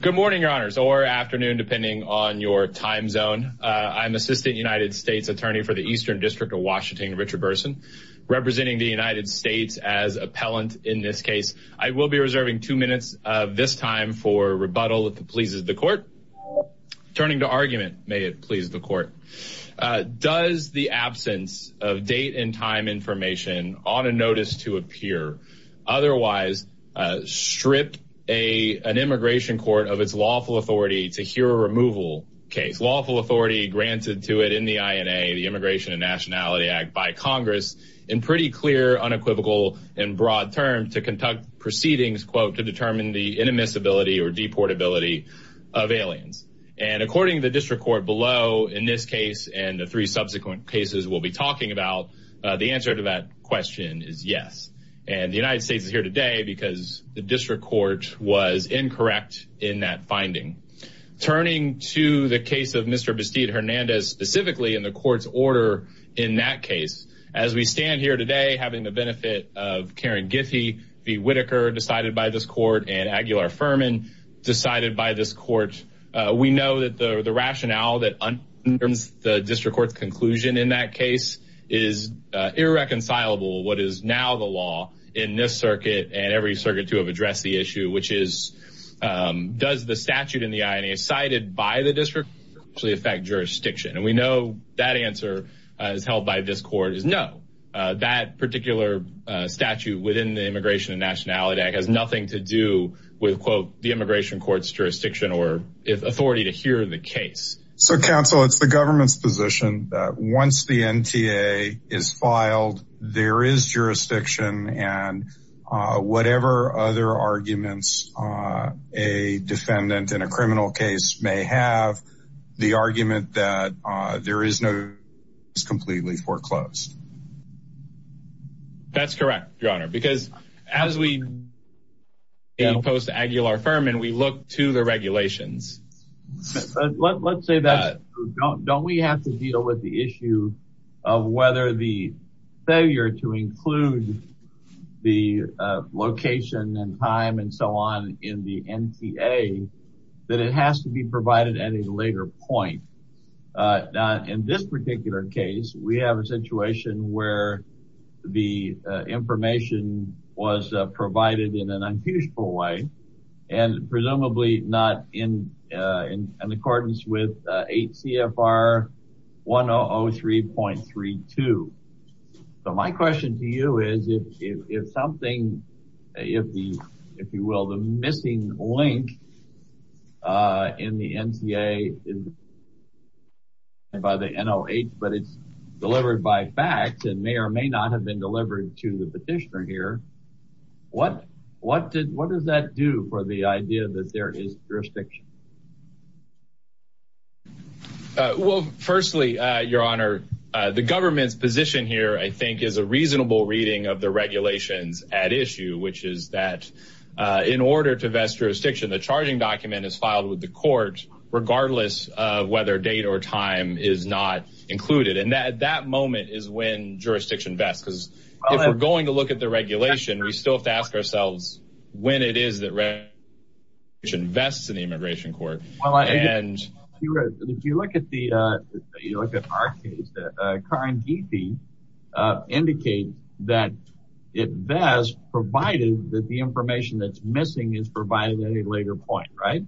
Good morning, your honors, or afternoon, depending on your time zone. I'm Assistant United States Attorney for the Eastern District of Washington, Richard Burson, representing the United States as appellant in this case. I will be reserving two minutes of this time for rebuttal if it pleases the court. Turning to argument, may it please the court. Does the absence of date and its lawful authority to hear a removal case, lawful authority granted to it in the INA, the Immigration and Nationality Act by Congress, in pretty clear, unequivocal, and broad terms, to conduct proceedings, quote, to determine the inadmissibility or deportability of aliens? And according to the district court below in this case, and the three subsequent cases we'll be talking about, the answer to that question is yes. And the United States is here today because the district court was incorrect in that finding. Turning to the case of Mr. Bastide-Hernandez, specifically in the court's order in that case, as we stand here today having the benefit of Karen Giffey v. Whitaker decided by this court and Aguilar-Furman decided by this court, we know that the rationale that undermines the district court's conclusion in that case is irreconcilable with what is now the law in this circuit and every circuit to have addressed the issue, which is, does the statute in the INA cited by the district actually affect jurisdiction? And we know that answer, as held by this court, is no. That particular statute within the Immigration and Nationality Act has nothing to do with, quote, the immigration court's jurisdiction or authority to hear the case. So, counsel, it's the government's position that once the NTA is filed, there is jurisdiction. And whatever other arguments a defendant in a criminal case may have, the argument that there is no is completely foreclosed. That's correct, Your Honor, because as we, opposed to Aguilar-Furman, we look to the regulations. But let's say that don't we have to deal with the issue of whether the failure to include the location and time and so on in the NTA, that it has to be provided at a later point. In this particular case, we have a situation where the information was provided in an unusual way and presumably not in accordance with 8 CFR 1003.32. So, my question to you is if something, if you will, the missing link in the NTA by the NOH, but it's delivered by facts and may or may do for the idea that there is jurisdiction. Well, firstly, Your Honor, the government's position here, I think, is a reasonable reading of the regulations at issue, which is that in order to vest jurisdiction, the charging document is filed with the court regardless of whether date or time is not included. And that moment is when jurisdiction vests because if we're going to look at the regulation, we still have to ask when it is that jurisdiction vests in the immigration court. If you look at our case, Karen Githy indicates that it vests provided that the information that's missing is provided at a later point, right?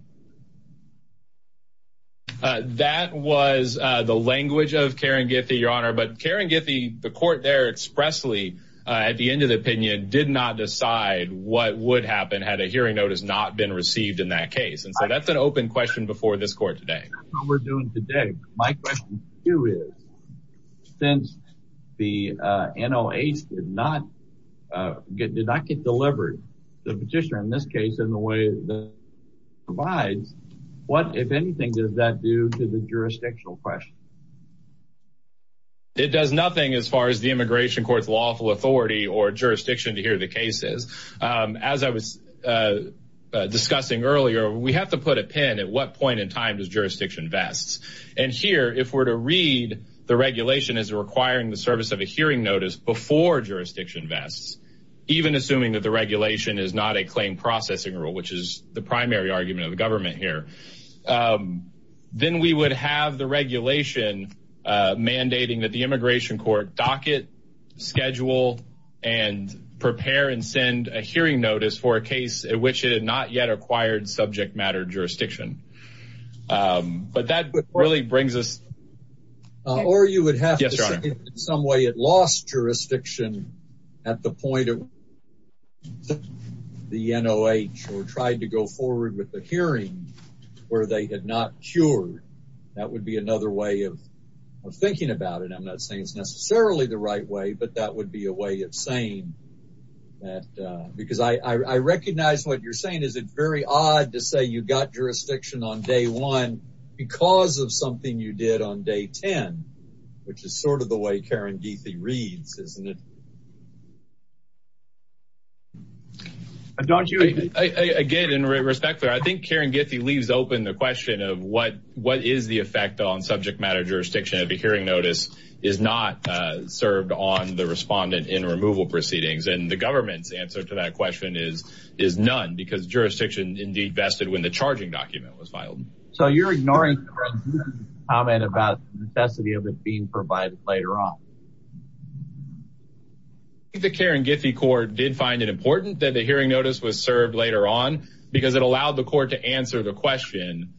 That was the language of Karen Githy, Your Honor. But Karen Githy, the court there expressly at the end of the opinion, did not decide what would happen had a hearing notice not been received in that case. And so, that's an open question before this court today. That's what we're doing today. My question to you is since the NOH did not get delivered, the petitioner in this case and the way provides, what, if anything, does that do to the jurisdictional question? It does nothing as far as the immigration court's lawful authority or jurisdiction to hear the cases. As I was discussing earlier, we have to put a pin at what point in time does jurisdiction vests. And here, if we're to read the regulation as requiring the service of a hearing notice before jurisdiction vests, even assuming that the regulation is not a claim processing rule, which is the primary argument of the government here, then we would have the regulation mandating that the immigration court docket, schedule, and prepare and send a hearing notice for a case in which it had not yet acquired subject matter jurisdiction. But that really brings us... Or you would have to say, in some way, it lost jurisdiction at the point of the NOH or tried to go forward with the hearing where they had not cured. That would be another way of thinking about it. I'm not saying it's necessarily the right way, but that would be a way of saying that. Because I recognize what you're saying. Is it very odd to say you got jurisdiction on day one because of something you did on day 10, which is sort of the way Karen Gethy reads, isn't it? Again, respectfully, I think Karen Gethy leaves open the question of what is the effect on subject matter jurisdiction if a hearing notice is not served on the respondent in removal proceedings. And the government's answer to that question is none because jurisdiction indeed vested when the charging document was filed. So you're ignoring the president's comment about the necessity of it being provided later on. I think the Karen Gethy court did find it important that the hearing notice was served later on because it allowed the court to answer the question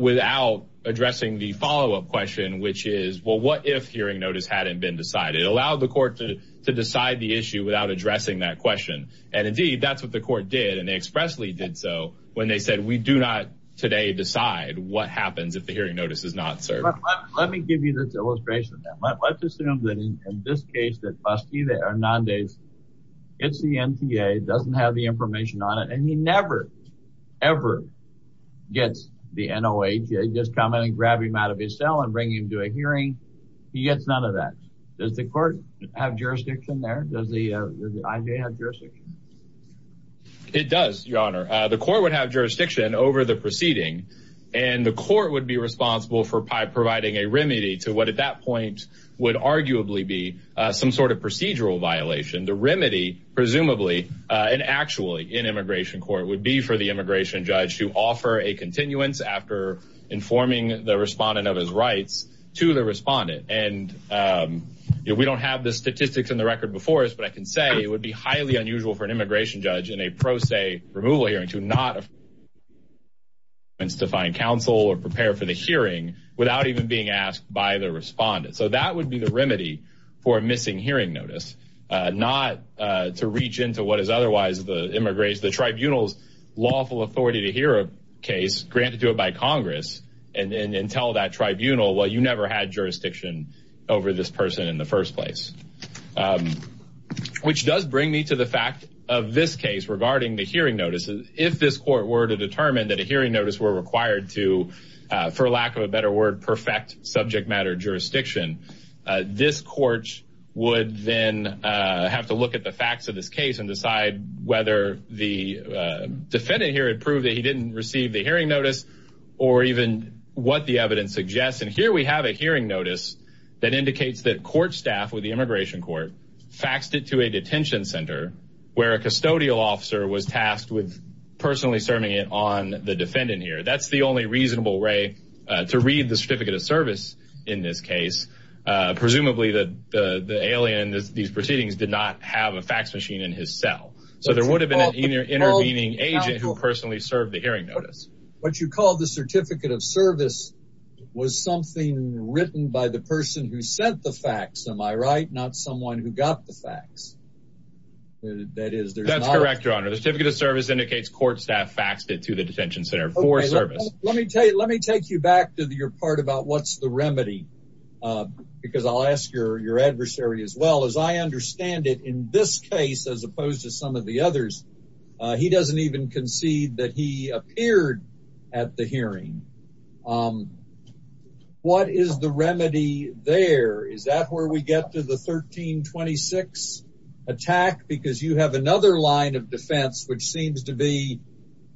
without addressing the follow-up question, which is, well, what if hearing notice hadn't been decided? It allowed the court to decide the issue without addressing that question. And indeed, that's what the court did. And they expressly did so when they said, we do not today decide what happens if the hearing notice is not served. Let me give you this illustration. Let's assume that in this case that Bastida Hernandez gets the NTA, doesn't have the information on it, and he never, ever gets the NOHA. They just come in and grab him out of his cell and bring him to a hearing. He gets none of that. Does the court have jurisdiction there? Does the IJ have jurisdiction? It does, your honor. The court would have jurisdiction over the proceeding and the court would be responsible for providing a remedy to what at that point would arguably be some sort of procedural violation. The remedy, presumably, and actually in immigration court would be for the immigration judge to offer a continuance after informing the respondent of his rights to the respondent. And we don't have the statistics in the record before us, but I can say it would be highly unusual for an immigration judge in a pro se removal hearing to not have to find counsel or prepare for the hearing without even being asked by the respondent. So that would be the remedy for a missing hearing notice. Not to reach into what is otherwise the tribunal's lawful authority to hear a case granted to it by Congress and then tell that tribunal, well, you never had jurisdiction over this person in the first place. Which does bring me to the fact of this case regarding the hearing notices. If this court were to determine that a hearing notice were required to, for lack of a better word, perfect subject matter jurisdiction, this court would then have to look at the facts of this case and decide whether the defendant here had proved that he didn't receive the hearing notice or even what the evidence suggests. And here we have a hearing notice that indicates that court staff with the immigration court faxed it to a detention center where a custodial officer was tasked with personally serving it on the defendant here. That's the only reasonable way to read the Certificate of Service in this case. Presumably the alien in these proceedings did not have a fax machine in his cell. So there would have been an intervening agent who personally served the hearing notice. What you call the Certificate of Service was something written by the person who sent the fax, am I right? Not someone who got the fax. That's correct, Your Honor. The Certificate of Service indicates court staff faxed it to the detention center for the defendant. I want to take you back to your part about what's the remedy, because I'll ask your adversary as well. As I understand it, in this case, as opposed to some of the others, he doesn't even concede that he appeared at the hearing. What is the remedy there? Is that where we get to the 1326 attack? Because you have another line of defense, which seems to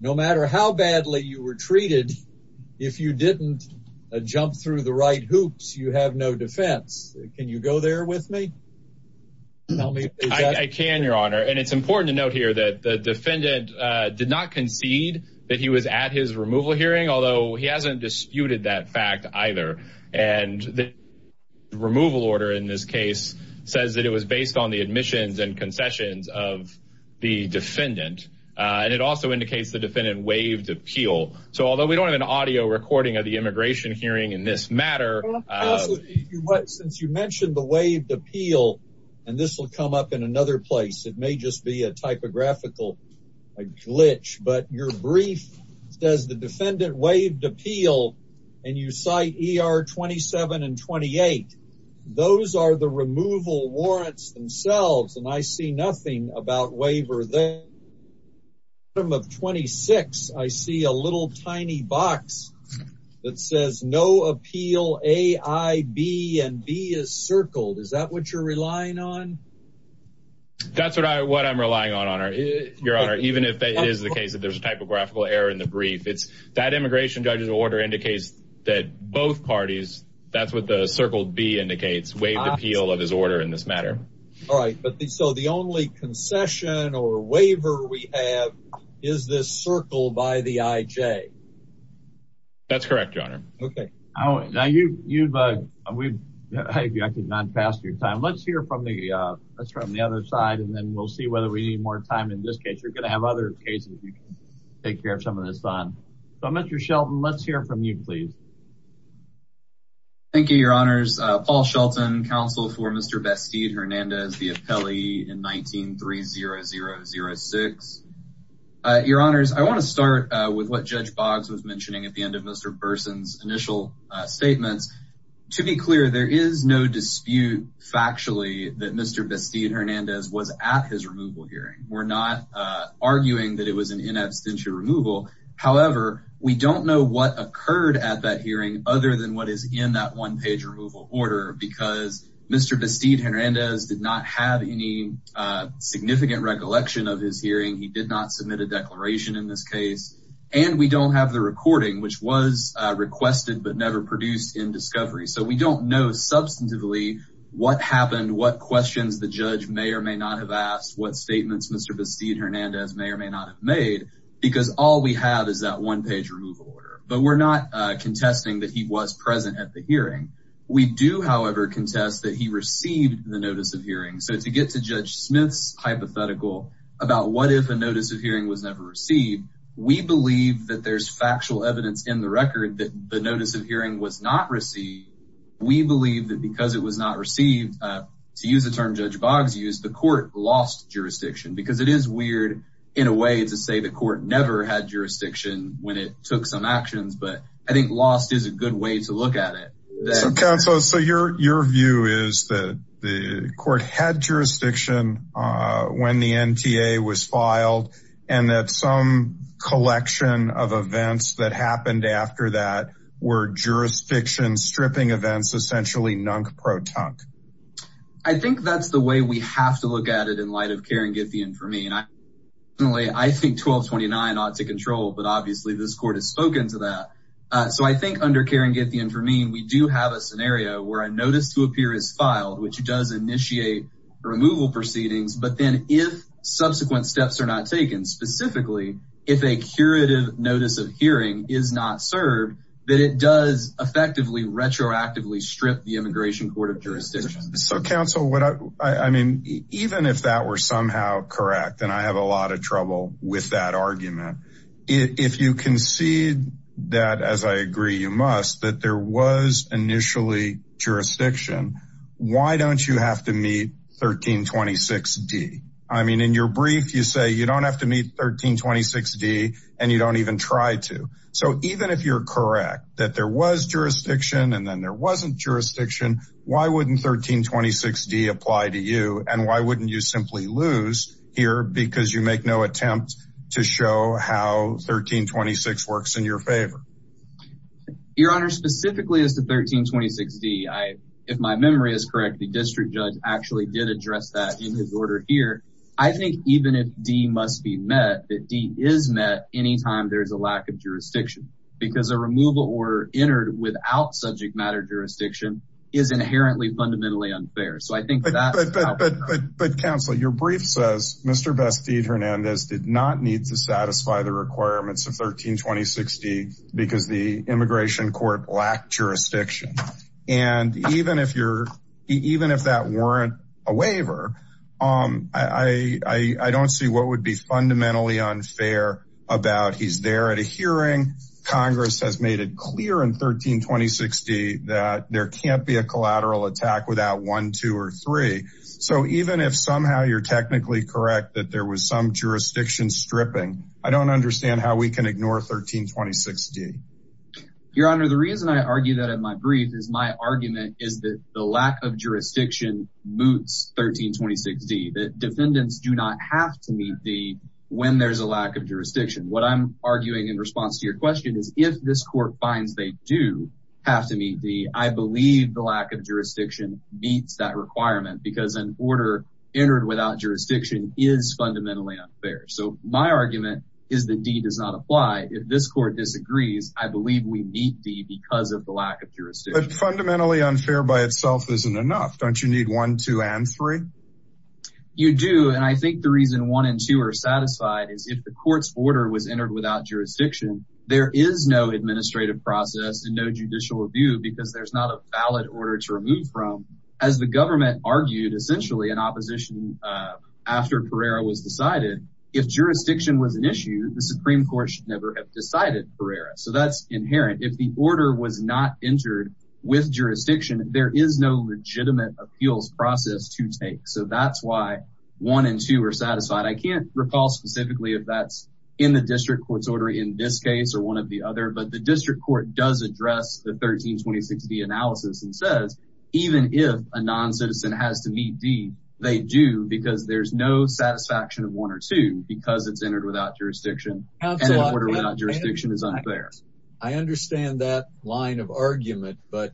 no matter how badly you were treated, if you didn't jump through the right hoops, you have no defense. Can you go there with me? I can, Your Honor. And it's important to note here that the defendant did not concede that he was at his removal hearing, although he hasn't disputed that fact either. And the removal order in this case says that it was based on the admissions and concessions of the defendant. And it also indicates the defendant waived appeal. So although we don't have an audio recording of the immigration hearing in this matter... Since you mentioned the waived appeal, and this will come up in another place, it may just be a typographical glitch, but your brief says the defendant waived appeal, and you cite ER 27 and 28. Those are the removal warrants themselves, and I see nothing about waiver there. At the bottom of 26, I see a little tiny box that says no appeal A, I, B, and B is circled. Is that what you're relying on? That's what I'm relying on, Your Honor, even if it is the case that there's a typographical error in the brief. It's that immigration judge's order indicates that both parties, that's what the circled B indicates, waived appeal of his order in this matter. All right, but so the only concession or waiver we have is this circle by the IJ. That's correct, Your Honor. Okay. Now you've... I could not pass your time. Let's hear from the other side, and then we'll see whether we need more time. In this case, you're going to have other cases you can take care of some of this on. So Mr. Shelton, let's hear from you, please. Thank you, Your Honors. Paul Shelton, counsel for Mr. Bastide Hernandez, the appellee in 19-3006. Your Honors, I want to start with what Judge Boggs was mentioning at the end of Mr. Burson's initial statements. To be clear, there is no dispute factually that Mr. Bastide Hernandez was at his removal hearing. We're not arguing that it was an in-absentia removal. However, we don't know what occurred at that hearing other than what is in that one-page removal order, because Mr. Bastide Hernandez did not have any significant recollection of his hearing. He did not submit a declaration in this case, and we don't have the recording, which was requested but never produced in discovery. So we don't know substantively what happened, what questions the judge may or may not have asked, what statements Mr. Bastide Hernandez may or may not have made, because all we have is that one-page removal order. But we're not contesting that he was present at the hearing. We do, however, contest that he received the notice of hearing. So to get to Judge Smith's hypothetical about what if a notice of hearing was never received, we believe that there's factual evidence in the record that the notice of hearing was not received. We believe that because it was not received, to use the term Judge Boggs used, the court lost jurisdiction, because it is weird in a way to say the court never had jurisdiction when it took some actions, but I think lost is a good way to look at it. So counsel, so your view is that the court had jurisdiction when the NTA was filed, and that some collection of events that happened after that were jurisdiction stripping events, essentially nunk-pro-tunk? I think that's the way we have to look at it in light of Kerengethian-Fermin. I think 1229 ought to control, but obviously this court has spoken to that. So I think under Kerengethian-Fermin, we do have a scenario where a notice to appear is filed, which does initiate removal proceedings, but then if subsequent steps are not taken, specifically if a curative notice of hearing is not served, that it does effectively retroactively strip the immigration court of jurisdiction. So counsel, I mean, even if that were somehow correct, and I have a lot of trouble with that argument, if you concede that, as I agree you must, that there was initially jurisdiction, why don't you have to meet 1326D? I mean, in your brief you say you don't have to meet 1326D, and you don't even try to. So even if you're correct that there was jurisdiction, and then there wasn't jurisdiction, why wouldn't 1326D apply to you, and why wouldn't you simply lose here because you make no attempt to show how 1326 works in your favor? Your honor, specifically as to 1326D, if my memory is correct, the district judge actually did address that in his order here. I think even if D must be met, that D is met anytime there's a lack of jurisdiction, because a removal order entered without subject matter jurisdiction is inherently fundamentally unfair. But counsel, your brief says Mr. Bastide Hernandez did not need to satisfy the requirements of 1326D because the immigration court lacked jurisdiction, and even if that weren't a waiver, I don't see what would be fundamentally unfair about, he's there at a hearing, Congress has made it clear in 1326D that there can't be a collateral attack without one, two, or three. So even if somehow you're technically correct that there was some jurisdiction stripping, I don't understand how we can ignore 1326D. Your honor, the reason I briefed is my argument is that the lack of jurisdiction moots 1326D, that defendants do not have to meet D when there's a lack of jurisdiction. What I'm arguing in response to your question is if this court finds they do have to meet D, I believe the lack of jurisdiction meets that requirement because an order entered without jurisdiction is fundamentally unfair. So my argument is that D does not apply. If this court disagrees, I believe we meet D because of the lack of jurisdiction. But fundamentally unfair by itself isn't enough. Don't you need one, two, and three? You do, and I think the reason one and two are satisfied is if the court's order was entered without jurisdiction, there is no administrative process and no judicial review because there's not a valid order to remove from. As the government argued essentially in opposition after Pereira was decided, if jurisdiction was an issue, the Supreme Court should never have decided Pereira. So that's inherent. If the order was not entered with jurisdiction, there is no legitimate appeals process to take. So that's why one and two are satisfied. I can't recall specifically if that's in the district court's order in this case or one of the other, but the district court does address the 1326D analysis and says even if a non-citizen has to meet D, they do because there's no satisfaction of one or two because it's entered without jurisdiction and an order without I understand that line of argument, but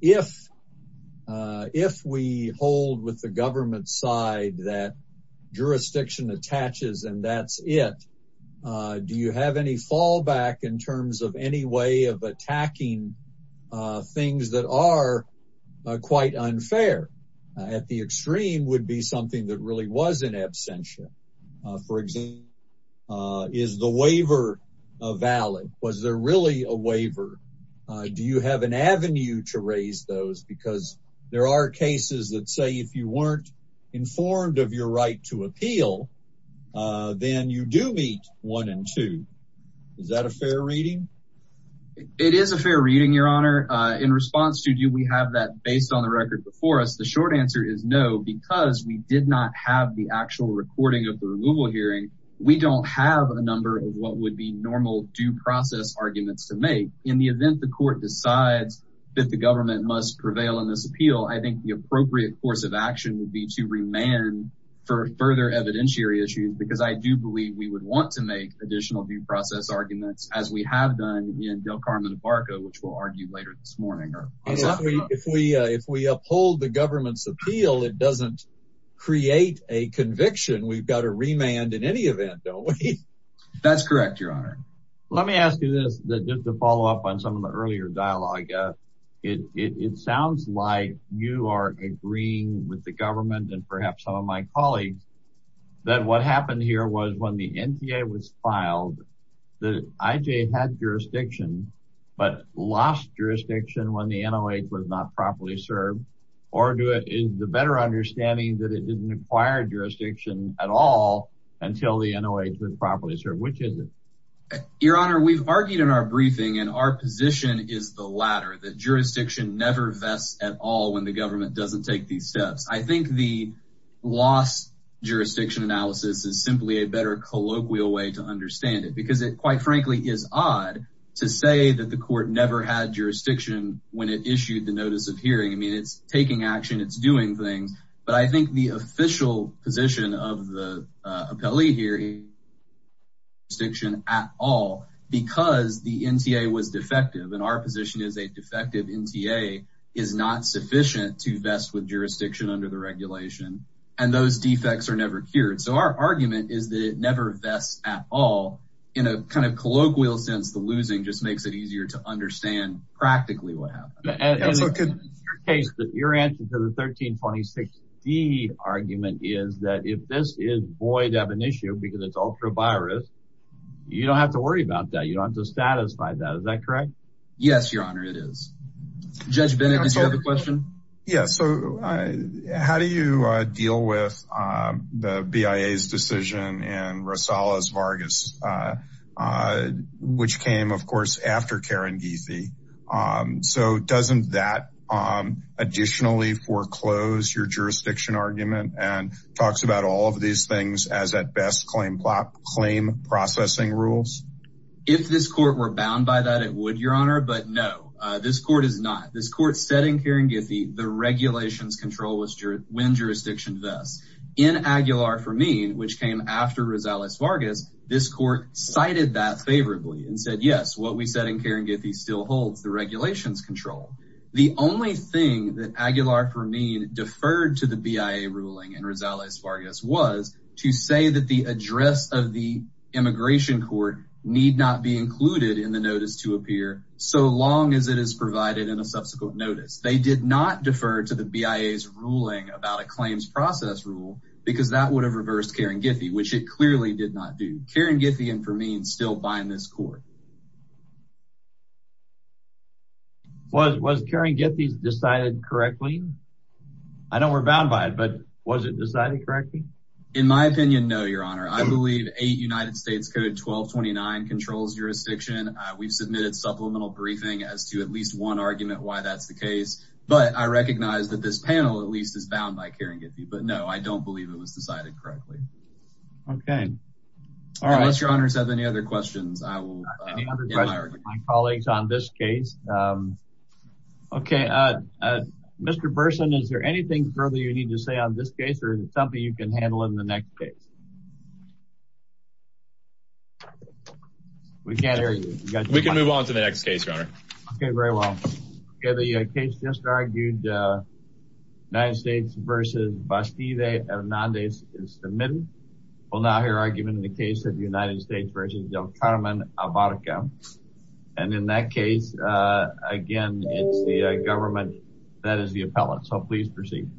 if we hold with the government side that jurisdiction attaches and that's it, do you have any fallback in terms of any way of attacking things that are quite unfair? At the extreme would be something that really was in absentia. For example, is the waiver valid? Was there really a waiver? Do you have an avenue to raise those? Because there are cases that say if you weren't informed of your right to appeal, then you do meet one and two. Is that a fair reading? It is a fair reading, your honor. In response to do we have that based on the record before us, the short answer is no because we did not have the actual recording of the removal hearing. We don't have a number of what would be normal due process arguments to make in the event the court decides that the government must prevail in this appeal. I think the appropriate course of action would be to remand for further evidentiary issues because I do believe we would want to make additional due process arguments as we have done in Del Carmen Barco, which we'll argue later this morning. If we uphold the appeal, it doesn't create a conviction. We've got to remand in any event, don't we? That's correct, your honor. Let me ask you this, just to follow up on some of the earlier dialogue. It sounds like you are agreeing with the government and perhaps some of my colleagues that what happened here was when the NTA was filed, that IJ had jurisdiction, but lost jurisdiction when the NOH was not properly served or do it is the better understanding that it didn't require jurisdiction at all until the NOH was properly served, which is it? Your honor, we've argued in our briefing and our position is the latter, that jurisdiction never vests at all when the government doesn't take these steps. I think the lost jurisdiction analysis is simply a better colloquial way to understand it because it quite frankly is odd to say that the court never had jurisdiction when it issued the notice of hearing. I mean, it's taking action, it's doing things, but I think the official position of the appellee here is jurisdiction at all because the NTA was defective and our position is a defective NTA is not sufficient to vest with jurisdiction under the regulation and those defects are never cured. So our argument is that it never vests at all in a kind of colloquial sense, the losing just makes it easier to understand practically what happened. Your answer to the 1326d argument is that if this is void ab initio because it's ultra virus, you don't have to worry about that, you don't have to satisfy that, is that correct? Yes, your honor, it is. Judge Bennett, did you have a question? Yeah, so how do you and Rosales Vargas, which came, of course, after Karen Githy, so doesn't that additionally foreclose your jurisdiction argument and talks about all of these things as at best claim processing rules? If this court were bound by that, it would, your honor, but no, this court is not. This court said in Karen Githy the regulations control was when jurisdiction vests. In Aguilar Fermin, which came after Rosales Vargas, this court cited that favorably and said, yes, what we said in Karen Githy still holds the regulations control. The only thing that Aguilar Fermin deferred to the BIA ruling and Rosales Vargas was to say that the address of the immigration court need not be included in the notice to appear so long as it is provided in a subsequent notice. They did not defer to the BIA's ruling about a claims process rule because that would have reversed Karen Githy, which it clearly did not do. Karen Githy and Fermin still bind this court. Was Karen Githy's decided correctly? I know we're bound by it, but was it decided correctly? In my opinion, no, your honor. I believe eight United States Code 1229 controls jurisdiction. We've submitted supplemental briefing as to at least one argument why that's the case, but I recognize that this panel at least is bound by Karen Githy, but no, I don't believe it was decided correctly. Okay. Unless your honors have any other questions, I will. Colleagues on this case. Okay. Mr. Burson, is there anything further you need to say on this or is it something you can handle in the next case? We can't hear you. We can move on to the next case, your honor. Okay. Very well. Okay. The case just argued United States versus Bastida Hernandez is submitted. We'll now hear argument in the case of the United States versus Del Carmen Abarca. And in that case, again, it's the government that is the appellate. So please proceed.